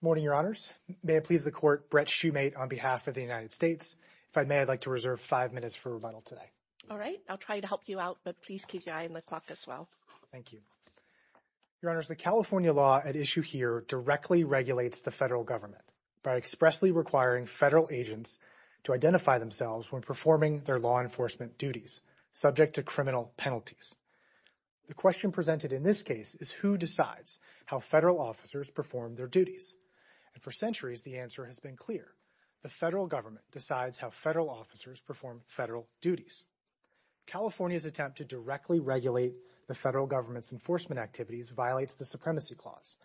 Morning, Your Honors. May it please the Court, Brett Shumate on behalf of the United States. If I may, I'd like to reserve five minutes for rebuttal today. All right. I'll try to help you out, but please keep your eye on the clock as well. Thank you. Your Honors, the California law at issue here directly regulates the federal government by expressly requiring federal agents to identify themselves when performing their law enforcement duties subject to criminal penalties. The question presented in this case is who decides how federal officers perform their duties. And for centuries, the answer has been clear. The federal government decides how federal officers perform federal duties. California's attempt to directly regulate the federal government's enforcement activities violates the supremacy clause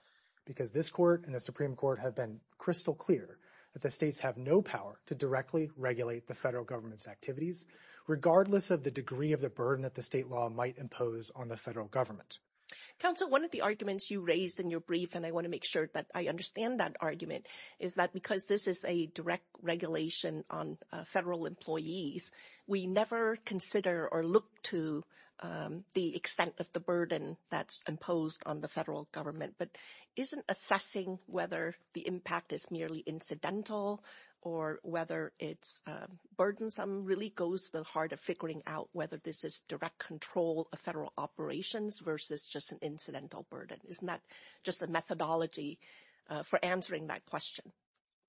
because this court and the Supreme Court have been crystal clear that the states have no power to directly regulate the federal government's activities, regardless of the degree of the burden that the state law might impose on the federal government. Counsel, one of the arguments you raised in your brief, and I want to make sure that I understand that argument, is that because this is a direct regulation on federal employees, we never consider or look to the extent of the burden that's imposed on the federal government, but isn't assessing whether the impact is merely incidental or whether it's burdensome really goes to the heart of figuring out whether this is direct control of federal operations versus just an incidental burden? Isn't that just the methodology for answering that question?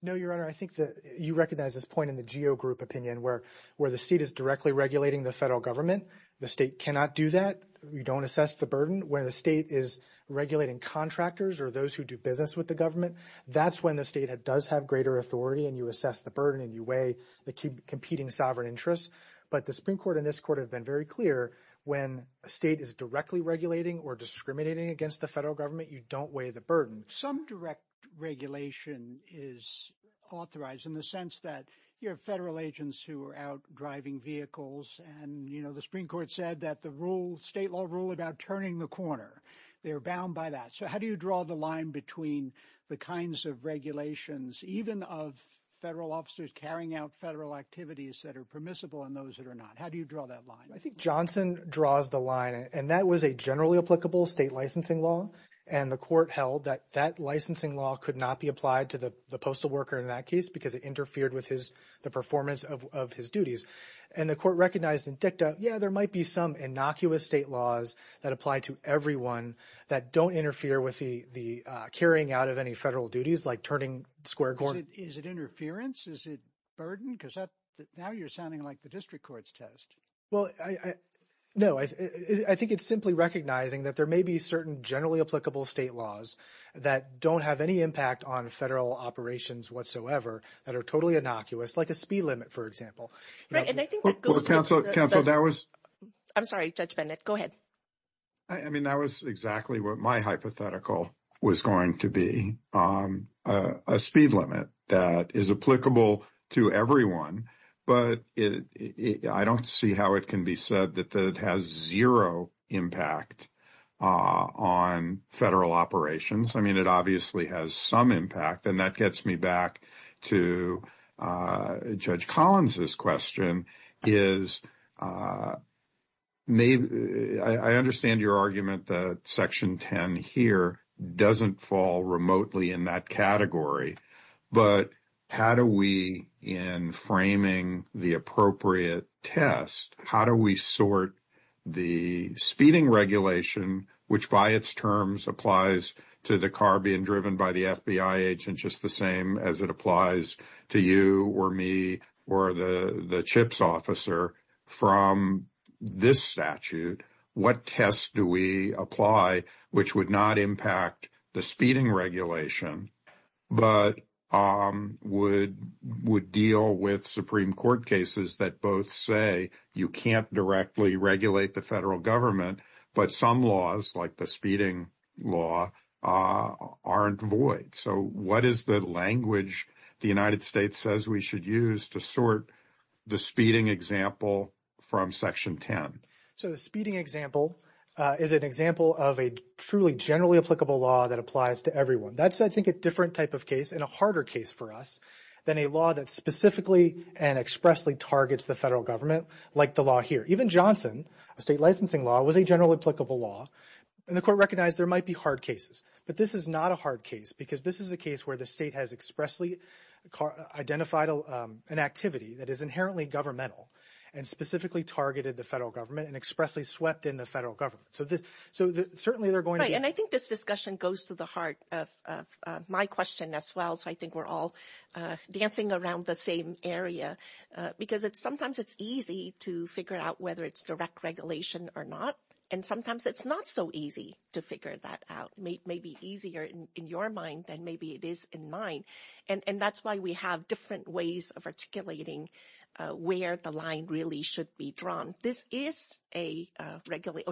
No, Your Honor, I think that you recognize this point in the GEO Group opinion where the state is directly regulating the federal government. The state cannot do that. You don't assess the burden. Where the state is regulating contractors or those who do business with the government, that's when the state does have greater authority and you assess the burden and you weigh the competing sovereign interests. But the Supreme Court and this court have been very clear when a state is directly regulating or discriminating against the federal government, you don't weigh the burden. Some direct regulation is authorized in the sense that you have federal agents who are out driving vehicles and the Supreme Court said that the state law rule about turning the corner. They are bound by that. So how do you draw the line between the kinds of regulations, even of federal officers carrying out federal activities that are permissible and those that are not? How do you draw that line? I think Johnson draws the line and that was a generally applicable state licensing law and the court held that that licensing law could not be applied to the postal worker in that case because it interfered with the performance of his duties. And the court recognized in dicta, yeah, there might be some innocuous state laws that apply to everyone that don't interfere with the carrying out of any federal duties like turning square corners. Is it interference? Is it burden? Because now you're sounding like the district court's test. Well, no. I think it's simply recognizing that there may be certain generally applicable state laws that don't have any impact on federal operations whatsoever that are totally innocuous like a speed limit, for example. Counsel, that was. I'm sorry, Judge Bennett. Go ahead. I mean, that was exactly what my hypothetical was going to be, a speed limit that is applicable to everyone. But I don't see how it can be said that it has zero impact on federal operations. I mean, it obviously has some impact, and that gets me back to Judge Collins' question. I understand your argument that Section 10 here doesn't fall remotely in that category, but how do we in framing the appropriate test, how do we sort the speeding regulation, which by its terms applies to the car being driven by the FBI agent just the same as it applies to you or me or the CHIPS officer from this statute? What tests do we apply which would not impact the speeding regulation but would deal with Supreme Court cases that both say you can't directly regulate the federal government but some laws like the speeding law aren't void? So what is the language the United States says we should use to sort the speeding example from Section 10? So the speeding example is an example of a truly generally applicable law that applies to everyone. That's, I think, a different type of case and a harder case for us than a law that specifically and expressly targets the federal government like the law here. Even Johnson, a state licensing law, was a generally applicable law, and the court recognized there might be hard cases. But this is not a hard case because this is a case where the state has expressly identified an activity that is inherently governmental and specifically targeted the federal government and expressly swept in the federal government. So certainly they're going to be – Right, and I think this discussion goes to the heart of my question as well, so I think we're all dancing around the same area, because sometimes it's easy to figure out whether it's direct regulation or not, and sometimes it's not so easy to figure that out. It may be easier in your mind than maybe it is in mine, and that's why we have different ways of articulating where the line really should be drawn. This is a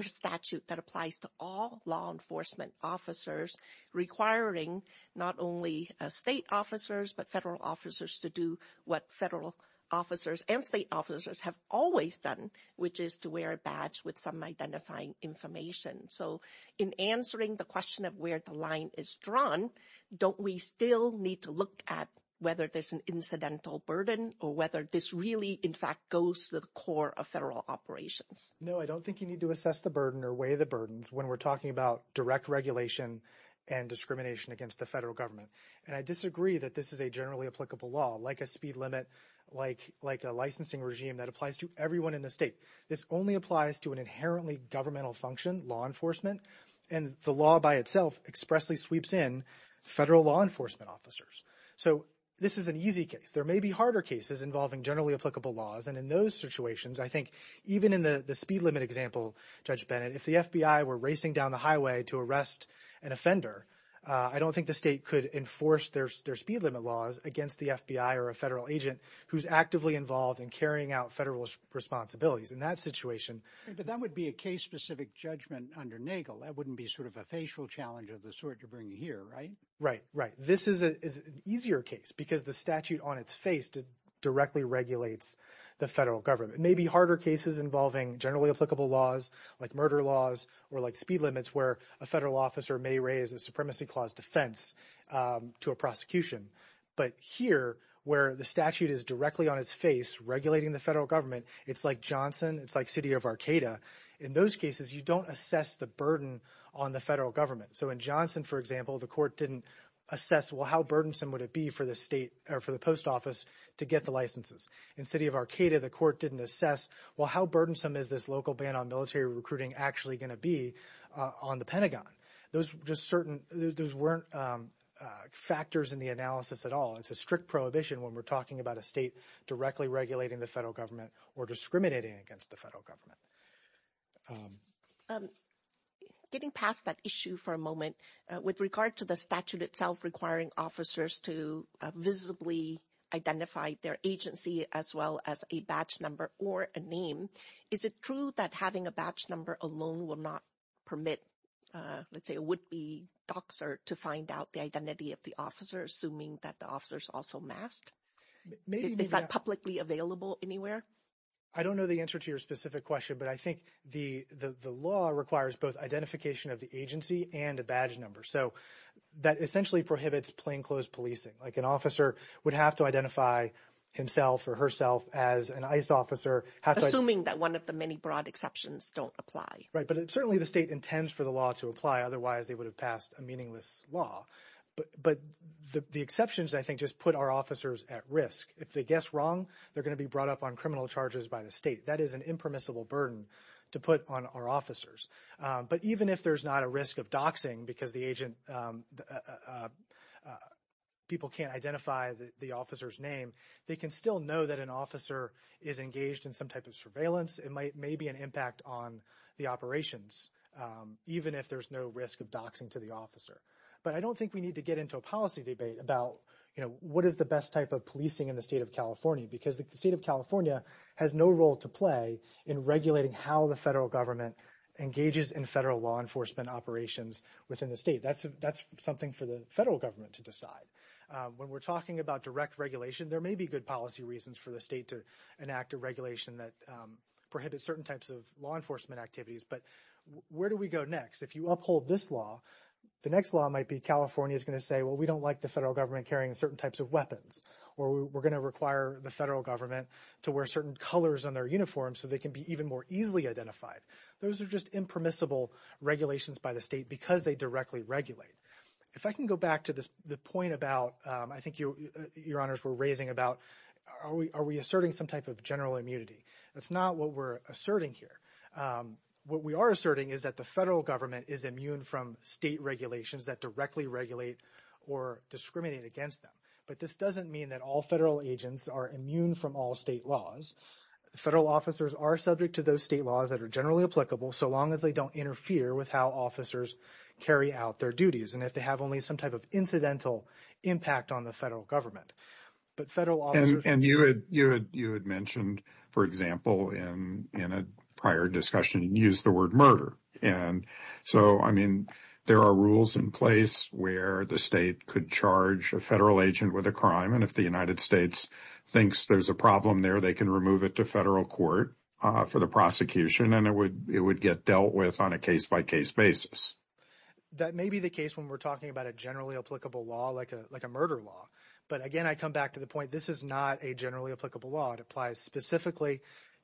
statute that applies to all law enforcement officers requiring not only state officers but federal officers to do what federal officers and state officers have always done, which is to wear a badge with some identifying information. So in answering the question of where the line is drawn, don't we still need to look at whether there's an incidental burden or whether this really in fact goes to the core of federal operations? No, I don't think you need to assess the burden or weigh the burdens when we're talking about direct regulation and discrimination against the federal government. And I disagree that this is a generally applicable law, like a speed limit, like a licensing regime that applies to everyone in the state. This only applies to an inherently governmental function, law enforcement, and the law by itself expressly sweeps in federal law enforcement officers. So this is an easy case. There may be harder cases involving generally applicable laws, and in those situations I think even in the speed limit example, Judge Bennett, if the FBI were racing down the highway to arrest an offender, I don't think the state could enforce their speed limit laws against the FBI or a federal agent who's actively involved in carrying out federal responsibilities. In that situation— But that would be a case-specific judgment under NAGLE. That wouldn't be sort of a facial challenge of the sort you're bringing here, right? Right, right. This is an easier case because the statute on its face directly regulates the federal government. It may be harder cases involving generally applicable laws, like murder laws, or like speed limits where a federal officer may raise a supremacy clause defense to a prosecution. But here, where the statute is directly on its face regulating the federal government, it's like Johnson, it's like city of Arcata. In those cases, you don't assess the burden on the federal government. So in Johnson, for example, the court didn't assess, well, how burdensome would it be for the state or for the post office to get the licenses. In city of Arcata, the court didn't assess, well, how burdensome is this local ban on military recruiting actually going to be on the Pentagon? Those just weren't factors in the analysis at all. It's a strict prohibition when we're talking about a state directly regulating the federal government or discriminating against the federal government. Getting past that issue for a moment, with regard to the statute itself requiring officers to visibly identify their agency as well as a batch number or a name, is it true that having a batch number alone will not permit, let's say, a would-be doctor to find out the identity of the officer, assuming that the officer is also masked? Is that publicly available anywhere? I don't know the answer to your specific question, but I think the law requires both identification of the agency and a batch number. So that essentially prohibits plainclothes policing. Like an officer would have to identify himself or herself as an ICE officer. Assuming that one of the many broad exceptions don't apply. Right, but certainly the state intends for the law to apply. Otherwise, they would have passed a meaningless law. But the exceptions, I think, just put our officers at risk. If they guess wrong, they're going to be brought up on criminal charges by the state. That is an impermissible burden to put on our officers. But even if there's not a risk of doxing because people can't identify the officer's name, they can still know that an officer is engaged in some type of surveillance. It may be an impact on the operations, even if there's no risk of doxing to the officer. But I don't think we need to get into a policy debate about, you know, the state of California because the state of California has no role to play in regulating how the federal government engages in federal law enforcement operations within the state. That's something for the federal government to decide. When we're talking about direct regulation, there may be good policy reasons for the state to enact a regulation that prohibits certain types of law enforcement activities. But where do we go next? If you uphold this law, the next law might be California is going to say, well, we don't like the federal government carrying certain types of weapons. Or we're going to require the federal government to wear certain colors on their uniforms so they can be even more easily identified. Those are just impermissible regulations by the state because they directly regulate. If I can go back to the point about, I think your honors were raising about, are we asserting some type of general immunity? That's not what we're asserting here. What we are asserting is that the federal government is immune from state regulations that directly regulate or discriminate against them. But this doesn't mean that all federal agents are immune from all state laws. Federal officers are subject to those state laws that are generally applicable so long as they don't interfere with how officers carry out their duties and if they have only some type of incidental impact on the federal government. But federal officers… And you had mentioned, for example, in a prior discussion, you used the word murder. So, I mean, there are rules in place where the state could charge a federal agent with a crime and if the United States thinks there's a problem there, they can remove it to federal court for the prosecution and it would get dealt with on a case-by-case basis. That may be the case when we're talking about a generally applicable law like a murder law. But again, I come back to the point, this is not a generally applicable law. It applies specifically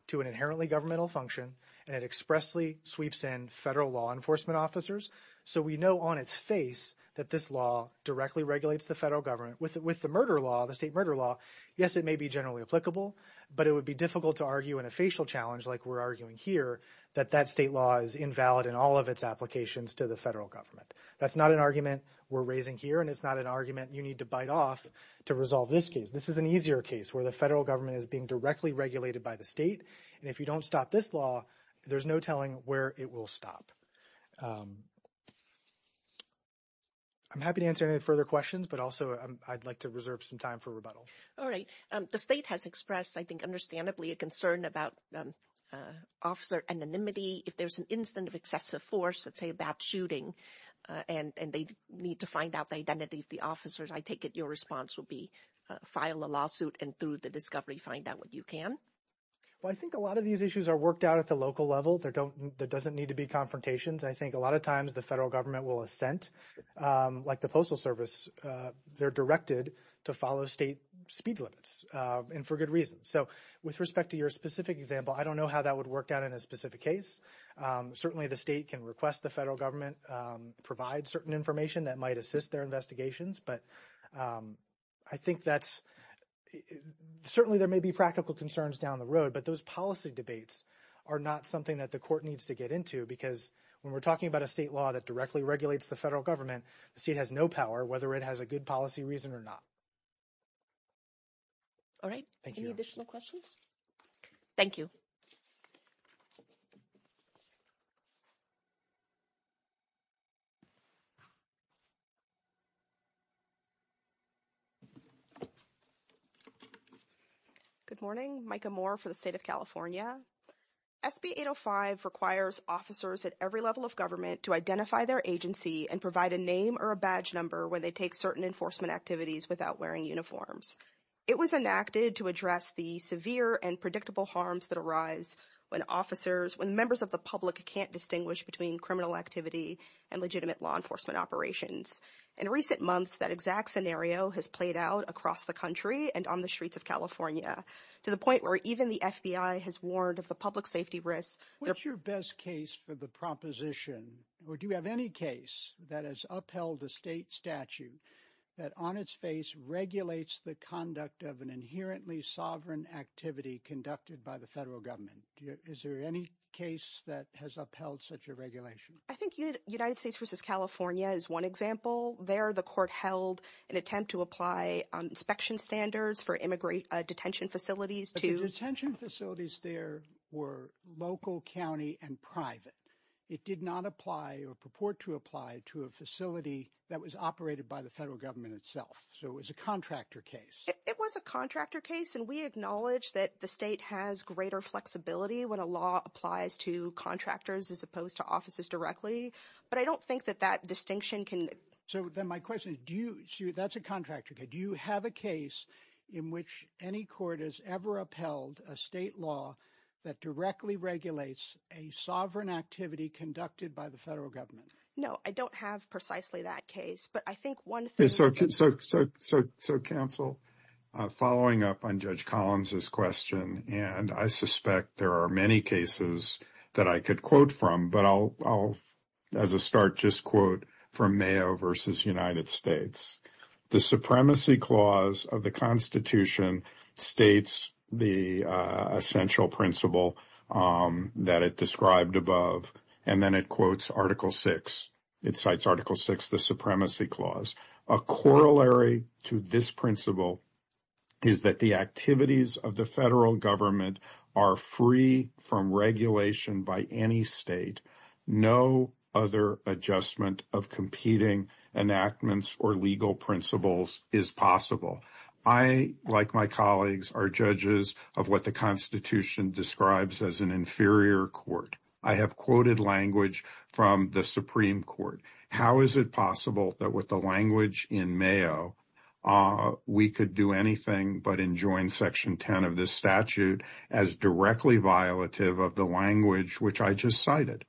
to an inherently governmental function and it expressly sweeps in federal law enforcement officers. So we know on its face that this law directly regulates the federal government. With the murder law, the state murder law, yes, it may be generally applicable, but it would be difficult to argue in a facial challenge like we're arguing here that that state law is invalid in all of its applications to the federal government. That's not an argument we're raising here and it's not an argument you need to bite off to resolve this case. This is an easier case where the federal government is being directly regulated by the state and if you don't stop this law, there's no telling where it will stop. I'm happy to answer any further questions, but also I'd like to reserve some time for rebuttal. All right. The state has expressed, I think understandably, a concern about officer anonymity. If there's an incident of excessive force, let's say about shooting, and they need to find out the identity of the officers, I take it your response will be file a lawsuit and through the discovery find out what you can? Well, I think a lot of these issues are worked out at the local level. There doesn't need to be confrontations. I think a lot of times the federal government will assent, like the Postal Service. They're directed to follow state speed limits and for good reason. So with respect to your specific example, I don't know how that would work out in a specific case. Certainly the state can request the federal government provide certain information that might assist their investigations. But I think that's certainly there may be practical concerns down the road, but those policy debates are not something that the court needs to get into because when we're talking about a state law that directly regulates the federal government, the state has no power whether it has a good policy reason or not. All right. Thank you. Any additional questions? Thank you. Good morning. Micah Moore for the State of California. SB 805 requires officers at every level of government to identify their agency and provide a name or a badge number when they take certain enforcement activities without wearing uniforms. It was enacted to address the severe and predictable harms that arise when officers, when members of the public can't distinguish between criminal activity and legitimate law enforcement operations. In recent months, that exact scenario has played out across the country and on the streets of California to the point where even the FBI has warned of the public safety risks. What's your best case for the proposition? Or do you have any case that has upheld a state statute that on its face regulates the conduct of an inherently sovereign activity conducted by the federal government? Is there any case that has upheld such a regulation? I think United States v. California is one example. There, the court held an attempt to apply inspection standards for immigrant detention facilities to But the detention facilities there were local, county, and private. It did not apply or purport to apply to a facility that was operated by the federal government itself. So it was a contractor case. It was a contractor case, and we acknowledge that the state has greater flexibility when a law applies to contractors as opposed to officers directly. But I don't think that that distinction can... So then my question is, that's a contractor case. Do you have a case in which any court has ever upheld a state law that directly regulates a sovereign activity conducted by the federal government? No, I don't have precisely that case, but I think one thing... Okay, so counsel, following up on Judge Collins' question, and I suspect there are many cases that I could quote from, but I'll, as a start, just quote from Mayo v. United States. The Supremacy Clause of the Constitution states the essential principle that it described above, and then it quotes Article VI. It cites Article VI, the Supremacy Clause. A corollary to this principle is that the activities of the federal government are free from regulation by any state. No other adjustment of competing enactments or legal principles is possible. I, like my colleagues, are judges of what the Constitution describes as an inferior court. I have quoted language from the Supreme Court. How is it possible that with the language in Mayo, we could do anything but enjoin Section 10 of this statute as directly violative of the language which I just cited?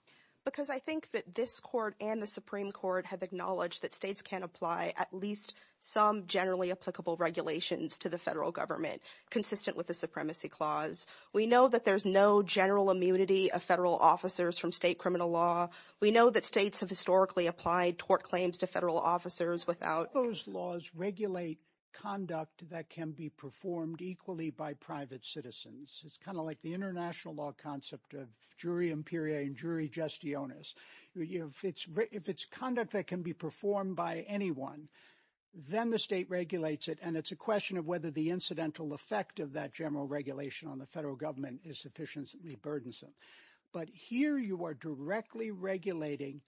Because I think that this court and the Supreme Court have acknowledged that states can apply at least some generally applicable regulations to the federal government, consistent with the Supremacy Clause. We know that there's no general immunity of federal officers from state criminal law. We know that states have historically applied tort claims to federal officers without— Those laws regulate conduct that can be performed equally by private citizens. It's kind of like the international law concept of jury imperia and jury gestionis. If it's conduct that can be performed by anyone, then the state regulates it, and it's a question of whether the incidental effect of that general regulation on the federal government is sufficiently burdensome. But here you are directly regulating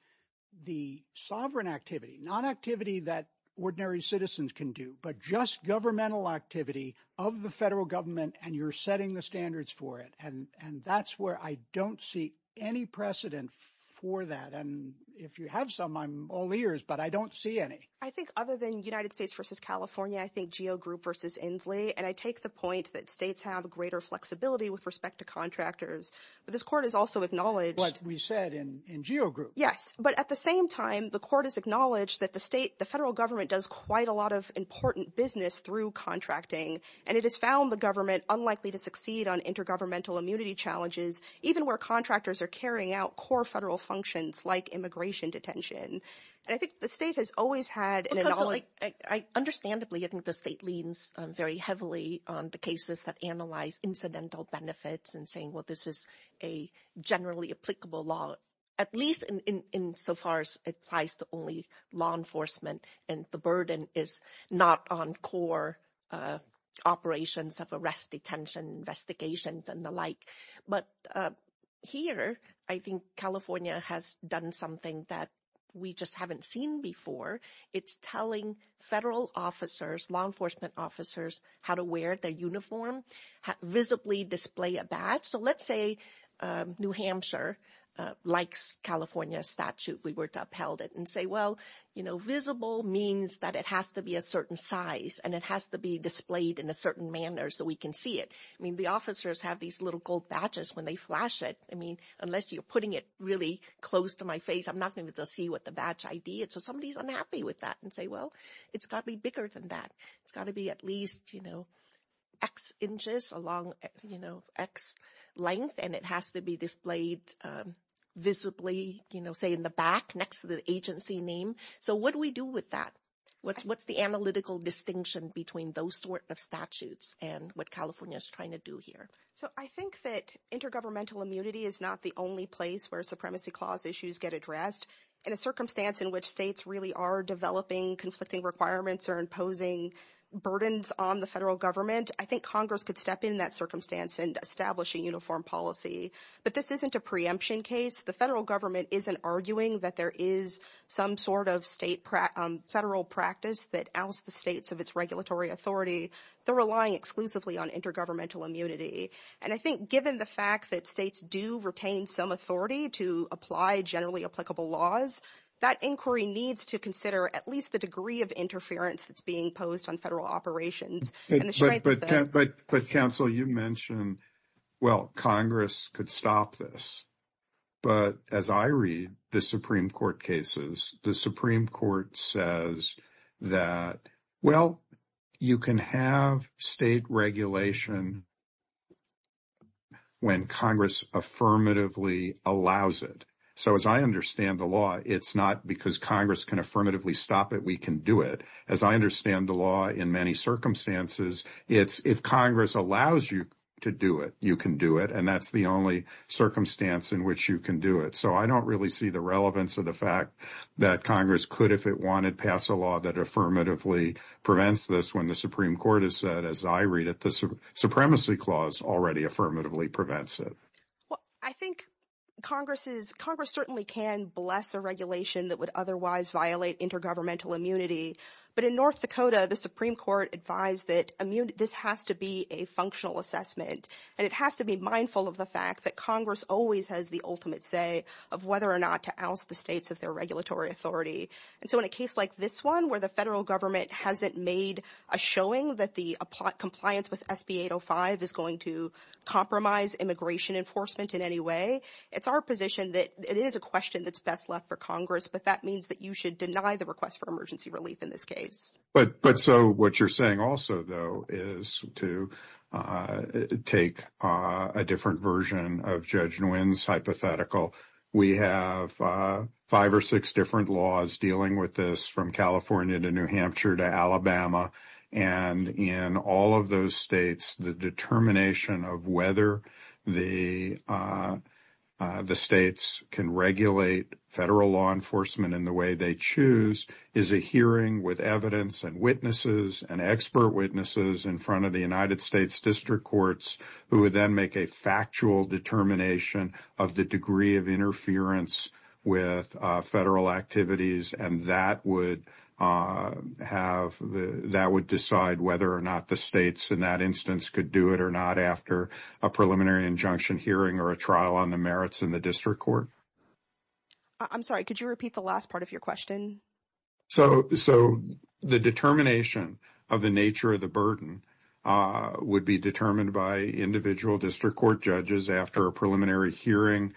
the sovereign activity, not activity that ordinary citizens can do, but just governmental activity of the federal government, and you're setting the standards for it. And that's where I don't see any precedent for that. And if you have some, I'm all ears, but I don't see any. I think other than United States v. California, I think GEO Group v. Inslee, and I take the point that states have greater flexibility with respect to contractors. But this court has also acknowledged— Like we said in GEO Group. Yes, but at the same time, the court has acknowledged that the state, the federal government does quite a lot of important business through contracting, and it has found the government unlikely to succeed on intergovernmental immunity challenges, even where contractors are carrying out core federal functions like immigration detention. And I think the state has always had— Understandably, I think the state leans very heavily on the cases that analyze incidental benefits and saying, well, this is a generally applicable law, at least insofar as it applies to only law enforcement, and the burden is not on core operations of arrest, detention, investigations, and the like. But here, I think California has done something that we just haven't seen before. It's telling federal officers, law enforcement officers, how to wear their uniform, visibly display a badge. So let's say New Hampshire likes California's statute, if we were to upheld it, and say, well, you know, visible means that it has to be a certain size and it has to be displayed in a certain manner so we can see it. I mean, the officers have these little gold badges when they flash it. I mean, unless you're putting it really close to my face, I'm not going to be able to see what the badge ID is. So somebody is unhappy with that and say, well, it's got to be bigger than that. It's got to be at least, you know, X inches along, you know, X length, and it has to be displayed visibly, you know, say in the back next to the agency name. So what do we do with that? What's the analytical distinction between those sort of statutes and what California is trying to do here? So I think that intergovernmental immunity is not the only place where supremacy clause issues get addressed. In a circumstance in which states really are developing conflicting requirements or imposing burdens on the federal government, I think Congress could step in that circumstance and establish a uniform policy. But this isn't a preemption case. The federal government isn't arguing that there is some sort of state federal practice that outs the states of its regulatory authority. They're relying exclusively on intergovernmental immunity. And I think given the fact that states do retain some authority to apply generally applicable laws, that inquiry needs to consider at least the degree of interference that's being posed on federal operations. But counsel, you mentioned, well, Congress could stop this. But as I read the Supreme Court cases, the Supreme Court says that, well, you can have state regulation when Congress affirmatively allows it. So as I understand the law, it's not because Congress can affirmatively stop it. We can do it. As I understand the law, in many circumstances, it's if Congress allows you to do it, you can do it. And that's the only circumstance in which you can do it. So I don't really see the relevance of the fact that Congress could, if it wanted, pass a law that affirmatively prevents this when the Supreme Court has said, as I read it, the supremacy clause already affirmatively prevents it. Well, I think Congress certainly can bless a regulation that would otherwise violate intergovernmental immunity. But in North Dakota, the Supreme Court advised that this has to be a functional assessment. And it has to be mindful of the fact that Congress always has the ultimate say of whether or not to oust the states of their regulatory authority. And so in a case like this one where the federal government hasn't made a showing that the compliance with SB 805 is going to compromise immigration enforcement in any way, it's our position that it is a question that's best left for Congress. But that means that you should deny the request for emergency relief in this case. But so what you're saying also, though, is to take a different version of Judge Nguyen's hypothetical. We have five or six different laws dealing with this from California to New Hampshire to Alabama. And in all of those states, the determination of whether the states can regulate federal law enforcement in the way they choose is a hearing with evidence and witnesses and expert witnesses in front of the United States district courts who would then make a factual determination of the degree of interference with federal activities. And that would decide whether or not the states in that instance could do it or not after a preliminary injunction hearing or a trial on the merits in the district court. I'm sorry, could you repeat the last part of your question? So the determination of the nature of the burden would be determined by individual district court judges after a preliminary hearing,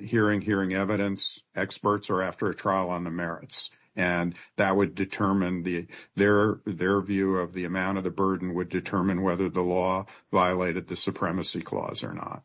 hearing evidence experts or after a trial on the merits. And that would determine their view of the amount of the burden would determine whether the law violated the supremacy clause or not.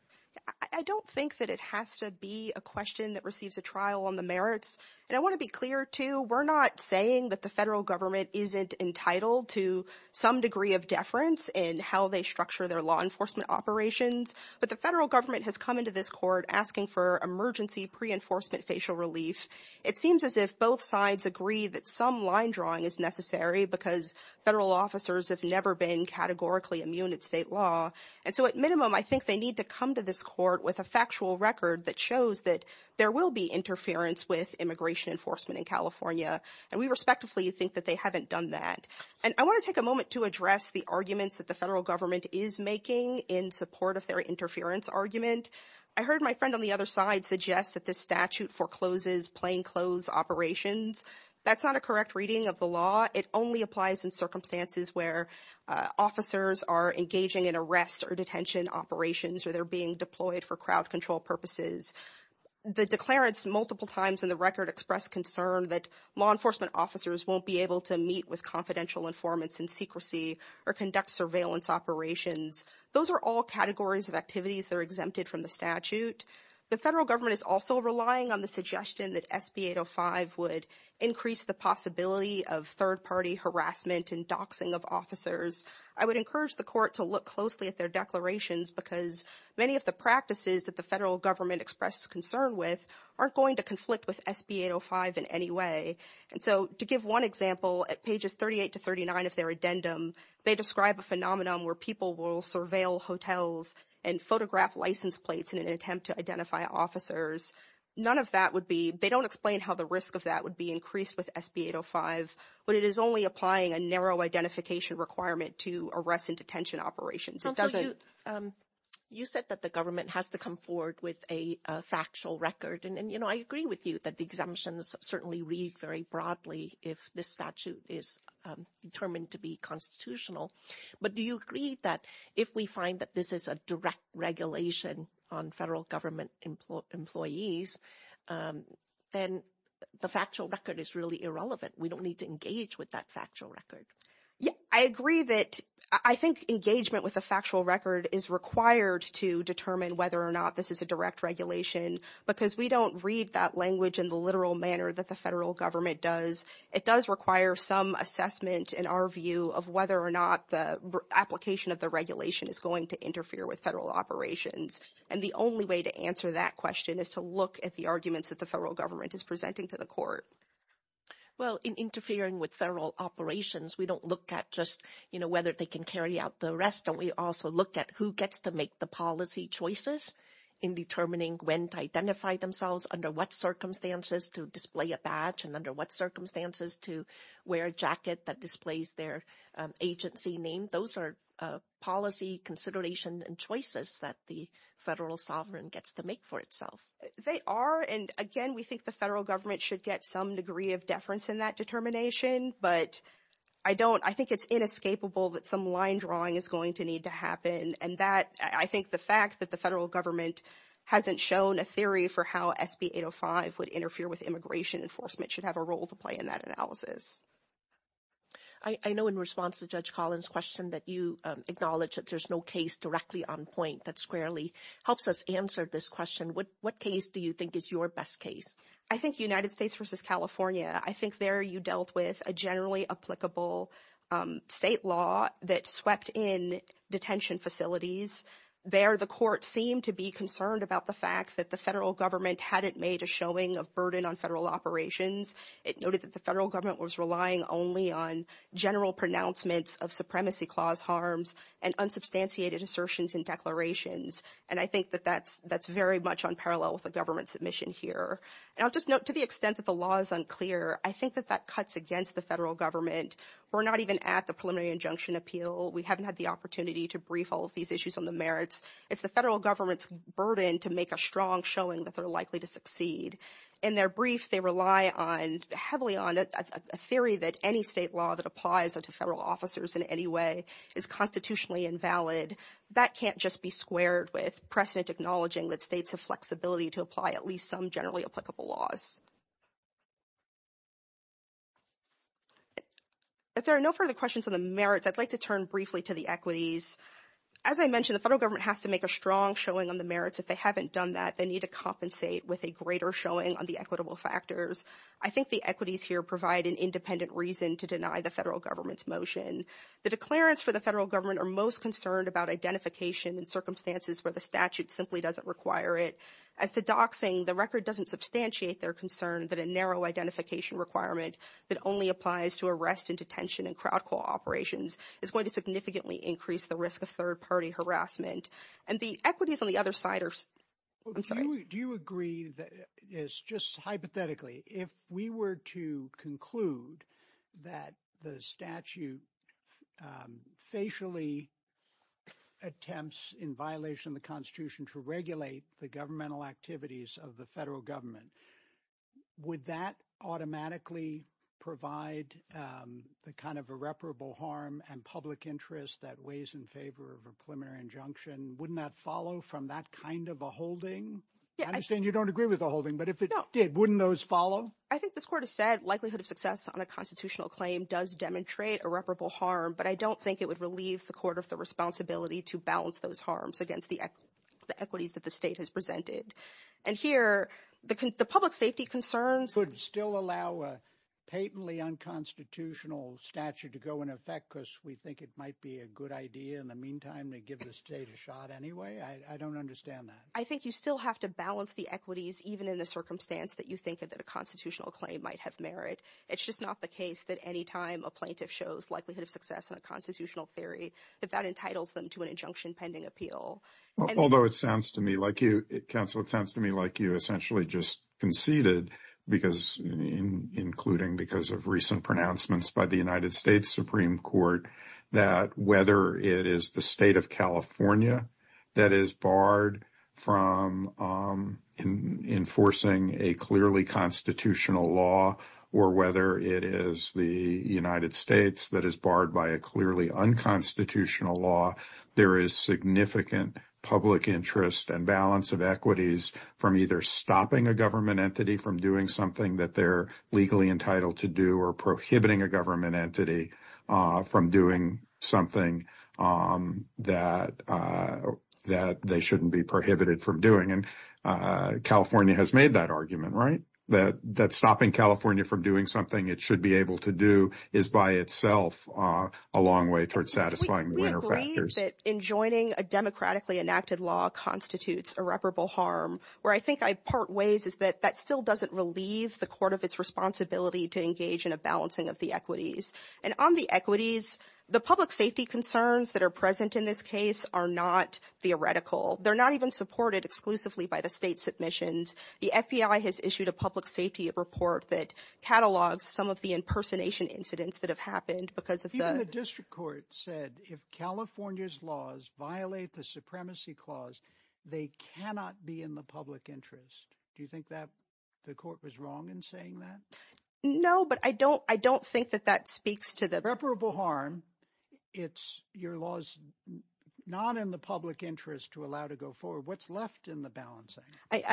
I don't think that it has to be a question that receives a trial on the merits. And I want to be clear, too, we're not saying that the federal government isn't entitled to some degree of deference in how they structure their law enforcement operations. But the federal government has come into this court asking for emergency pre-enforcement facial relief. It seems as if both sides agree that some line drawing is necessary because federal officers have never been categorically immune at state law. And so at minimum, I think they need to come to this court with a factual record that shows that there will be interference with immigration enforcement in California. And we respectively think that they haven't done that. And I want to take a moment to address the arguments that the federal government is making in support of their interference argument. I heard my friend on the other side suggest that this statute forecloses plainclothes operations. That's not a correct reading of the law. It only applies in circumstances where officers are engaging in arrest or detention operations or they're being deployed for crowd control purposes. The declarants multiple times in the record expressed concern that law enforcement officers won't be able to meet with confidential informants in secrecy or conduct surveillance operations. Those are all categories of activities that are exempted from the statute. The federal government is also relying on the suggestion that SB 805 would increase the possibility of third party harassment and doxing of officers. I would encourage the court to look closely at their declarations because many of the practices that the federal government expressed concern with aren't going to conflict with SB 805 in any way. And so to give one example, at pages 38 to 39 of their addendum, they describe a phenomenon where people will surveil hotels and photograph license plates in an attempt to identify officers. None of that would be they don't explain how the risk of that would be increased with SB 805, but it is only applying a narrow identification requirement to arrest and detention operations. You said that the government has to come forward with a factual record. And, you know, I agree with you that the exemptions certainly read very broadly if this statute is determined to be constitutional. But do you agree that if we find that this is a direct regulation on federal government employees, then the factual record is really irrelevant? We don't need to engage with that factual record. I agree that I think engagement with a factual record is required to determine whether or not this is a direct regulation because we don't read that language in the literal manner that the federal government does. It does require some assessment in our view of whether or not the application of the regulation is going to interfere with federal operations. And the only way to answer that question is to look at the arguments that the federal government is presenting to the court. Well, in interfering with federal operations, we don't look at just, you know, whether they can carry out the rest. And we also look at who gets to make the policy choices in determining when to identify themselves, under what circumstances to display a badge, and under what circumstances to wear a jacket that displays their agency name. Those are policy considerations and choices that the federal sovereign gets to make for itself. They are, and again, we think the federal government should get some degree of deference in that determination. But I don't, I think it's inescapable that some line drawing is going to need to happen. And that, I think the fact that the federal government hasn't shown a theory for how SB 805 would interfere with immigration enforcement should have a role to play in that analysis. I know in response to Judge Collins' question that you acknowledge that there's no case directly on point that squarely helps us answer this question. What case do you think is your best case? I think United States versus California. I think there you dealt with a generally applicable state law that swept in detention facilities. There, the court seemed to be concerned about the fact that the federal government hadn't made a showing of burden on federal operations. It noted that the federal government was relying only on general pronouncements of supremacy clause harms and unsubstantiated assertions and declarations. And I think that that's very much on parallel with the government's submission here. And I'll just note, to the extent that the law is unclear, I think that that cuts against the federal government. We're not even at the preliminary injunction appeal. We haven't had the opportunity to brief all of these issues on the merits. It's the federal government's burden to make a strong showing that they're likely to succeed. In their brief, they rely heavily on a theory that any state law that applies to federal officers in any way is constitutionally invalid. That can't just be squared with precedent acknowledging that states have flexibility to apply at least some generally applicable laws. If there are no further questions on the merits, I'd like to turn briefly to the equities. As I mentioned, the federal government has to make a strong showing on the merits. If they haven't done that, they need to compensate with a greater showing on the equitable factors. I think the equities here provide an independent reason to deny the federal government's motion. The declarants for the federal government are most concerned about identification in circumstances where the statute simply doesn't require it. As the docs sing, the record doesn't substantiate their concern that a narrow identification requirement that only applies to arrest and detention and crowd call operations is going to significantly increase the risk of third party harassment. And the equities on the other side are – I'm sorry. Do you agree that – just hypothetically, if we were to conclude that the statute facially attempts in violation of the Constitution to regulate the governmental activities of the federal government, would that automatically provide the kind of irreparable harm and public interest that weighs in favor of a preliminary injunction? Wouldn't that follow from that kind of a holding? I understand you don't agree with a holding, but if it did, wouldn't those follow? I think this court has said likelihood of success on a constitutional claim does demonstrate irreparable harm, but I don't think it would relieve the court of the responsibility to balance those harms against the equities that the state has presented. And here the public safety concerns – Could still allow a patently unconstitutional statute to go into effect because we think it might be a good idea in the meantime to give the state a shot anyway? I don't understand that. I think you still have to balance the equities even in the circumstance that you think that a constitutional claim might have merit. It's just not the case that any time a plaintiff shows likelihood of success on a constitutional theory, that that entitles them to an injunction pending appeal. Although it sounds to me like you, counsel, it sounds to me like you essentially just conceded, including because of recent pronouncements by the United States Supreme Court, that whether it is the state of California that is barred from enforcing a clearly constitutional law, or whether it is the United States that is barred by a clearly unconstitutional law, there is significant public interest and balance of equities from either stopping a government entity from doing something that they're legally entitled to do or prohibiting a government entity from doing something that they shouldn't be prohibited from doing. And California has made that argument, right? That stopping California from doing something it should be able to do is by itself a long way towards satisfying the winner factors. We agree that enjoining a democratically enacted law constitutes irreparable harm. Where I think I part ways is that that still doesn't relieve the court of its responsibility to engage in a balancing of the equities. And on the equities, the public safety concerns that are present in this case are not theoretical. They're not even supported exclusively by the state submissions. The FBI has issued a public safety report that catalogs some of the impersonation incidents that have happened because of the- Even the district court said if California's laws violate the supremacy clause, they cannot be in the public interest. Do you think that the court was wrong in saying that? No, but I don't think that that speaks to the- Irreparable harm, it's your laws not in the public interest to allow to go forward. What's left in the balancing? I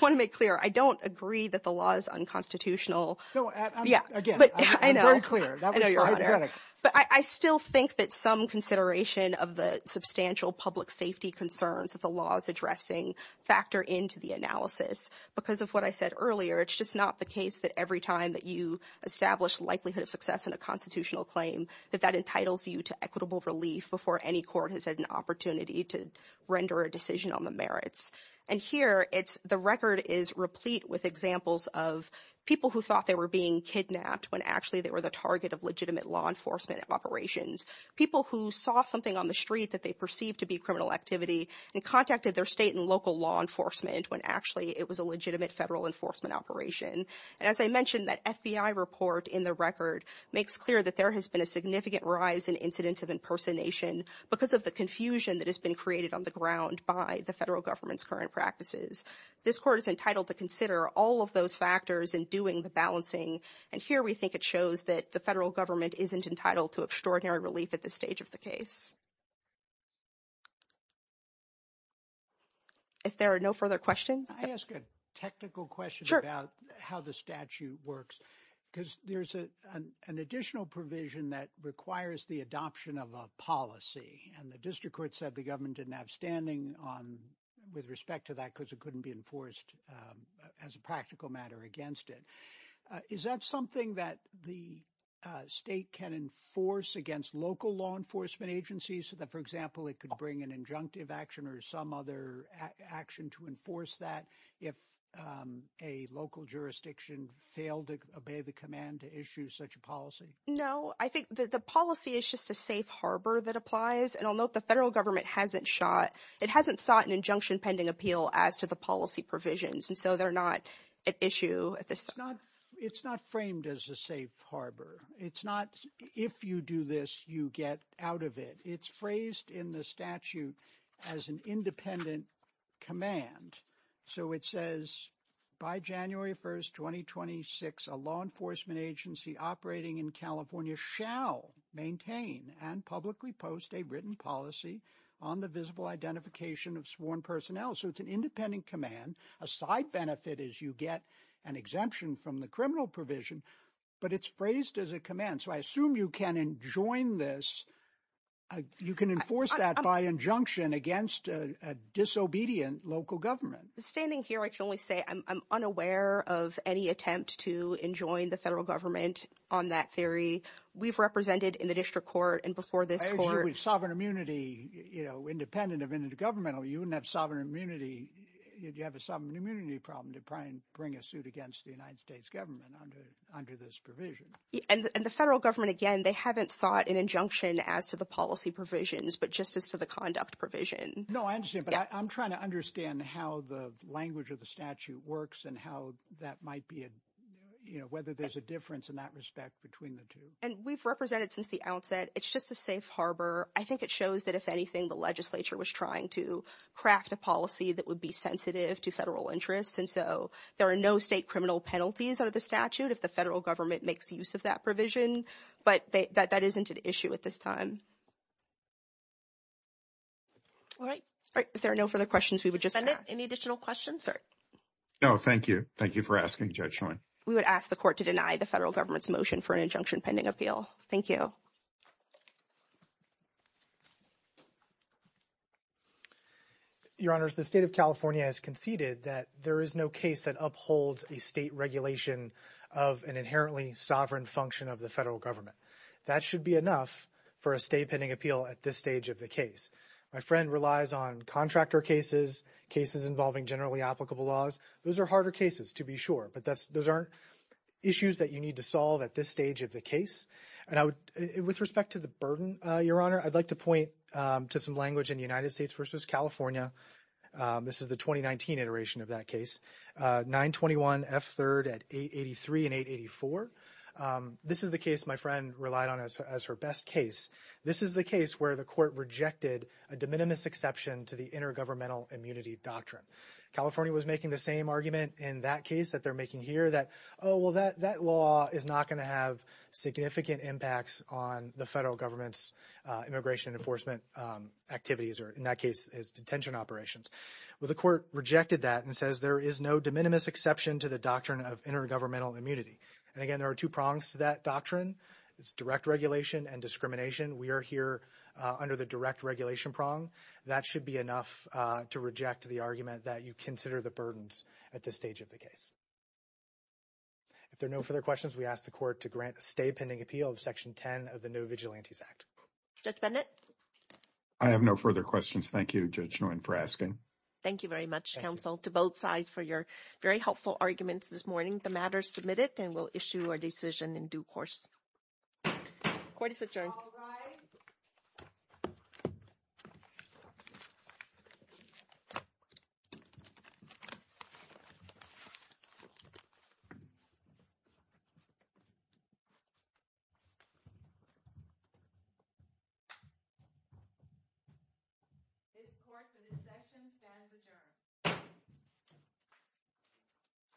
want to make clear, I don't agree that the law is unconstitutional. Again, I'm very clear. But I still think that some consideration of the substantial public safety concerns that the law is addressing factor into the analysis. Because of what I said earlier, it's just not the case that every time that you establish likelihood of success in a constitutional claim, that that entitles you to equitable relief before any court has had an opportunity to render a decision on the merits. And here, it's- the record is replete with examples of people who thought they were being kidnapped when actually they were the target of legitimate law enforcement operations. People who saw something on the street that they perceived to be criminal activity and contacted their state and local law enforcement when actually it was a legitimate federal enforcement operation. And as I mentioned, that FBI report in the record makes clear that there has been a significant rise in incidents of impersonation because of the confusion that has been created on the ground by the federal government's current practices. This court is entitled to consider all of those factors in doing the balancing. And here, we think it shows that the federal government isn't entitled to extraordinary relief at this stage of the case. If there are no further questions- I ask a technical question about how the statute works. Because there's an additional provision that requires the adoption of a policy. And the district court said the government didn't have standing on- with respect to that because it couldn't be enforced as a practical matter against it. Is that something that the state can enforce against local law enforcement agencies? So that, for example, it could bring an injunctive action or some other action to enforce that if a local jurisdiction failed to obey the command to issue such a policy? No, I think that the policy is just a safe harbor that applies. And I'll note the federal government hasn't shot- it hasn't sought an injunction pending appeal as to the policy provisions. And so they're not at issue at this time. It's not framed as a safe harbor. It's not, if you do this, you get out of it. It's phrased in the statute as an independent command. So it says, by January 1st, 2026, a law enforcement agency operating in California shall maintain and publicly post a written policy on the visible identification of sworn personnel. So it's an independent command. A side benefit is you get an exemption from the criminal provision. But it's phrased as a command. So I assume you can enjoin this- you can enforce that by injunction against a disobedient local government. Standing here, I can only say I'm unaware of any attempt to enjoin the federal government on that theory. We've represented in the district court and before this court- You know, independent of intergovernmental, you wouldn't have sovereign immunity- you'd have a sovereign immunity problem to try and bring a suit against the United States government under this provision. And the federal government, again, they haven't sought an injunction as to the policy provisions, but just as to the conduct provision. No, I understand. But I'm trying to understand how the language of the statute works and how that might be a- you know, whether there's a difference in that respect between the two. And we've represented since the outset. It's just a safe harbor. I think it shows that if anything, the legislature was trying to craft a policy that would be sensitive to federal interests. And so there are no state criminal penalties under the statute if the federal government makes use of that provision. But that isn't an issue at this time. All right. If there are no further questions, we would just- Any additional questions? No, thank you. Thank you for asking, Judge Schoen. We would ask the court to deny the federal government's motion for an injunction pending appeal. Thank you. Your Honors, the state of California has conceded that there is no case that upholds a state regulation of an inherently sovereign function of the federal government. That should be enough for a state pending appeal at this stage of the case. My friend relies on contractor cases, cases involving generally applicable laws. Those are harder cases, to be sure. But those aren't issues that you need to solve at this stage of the case. With respect to the burden, Your Honor, I'd like to point to some language in United States v. California. This is the 2019 iteration of that case. 921 F3rd at 883 and 884. This is the case my friend relied on as her best case. This is the case where the court rejected a de minimis exception to the intergovernmental immunity doctrine. California was making the same argument in that case that they're making here that, oh, well, that law is not going to have significant impacts on the federal government's immigration enforcement activities, or in that case, its detention operations. Well, the court rejected that and says there is no de minimis exception to the doctrine of intergovernmental immunity. And, again, there are two prongs to that doctrine. It's direct regulation and discrimination. We are here under the direct regulation prong. That should be enough to reject the argument that you consider the burdens at this stage of the case. If there are no further questions, we ask the court to grant a stay pending appeal of Section 10 of the No Vigilantes Act. Judge Bennett? I have no further questions. Thank you, Judge Nguyen, for asking. Thank you very much, counsel, to both sides for your very helpful arguments this morning. The matter is submitted and we'll issue our decision in due course. Court is adjourned. All rise. This Court, the dissection stands adjourned.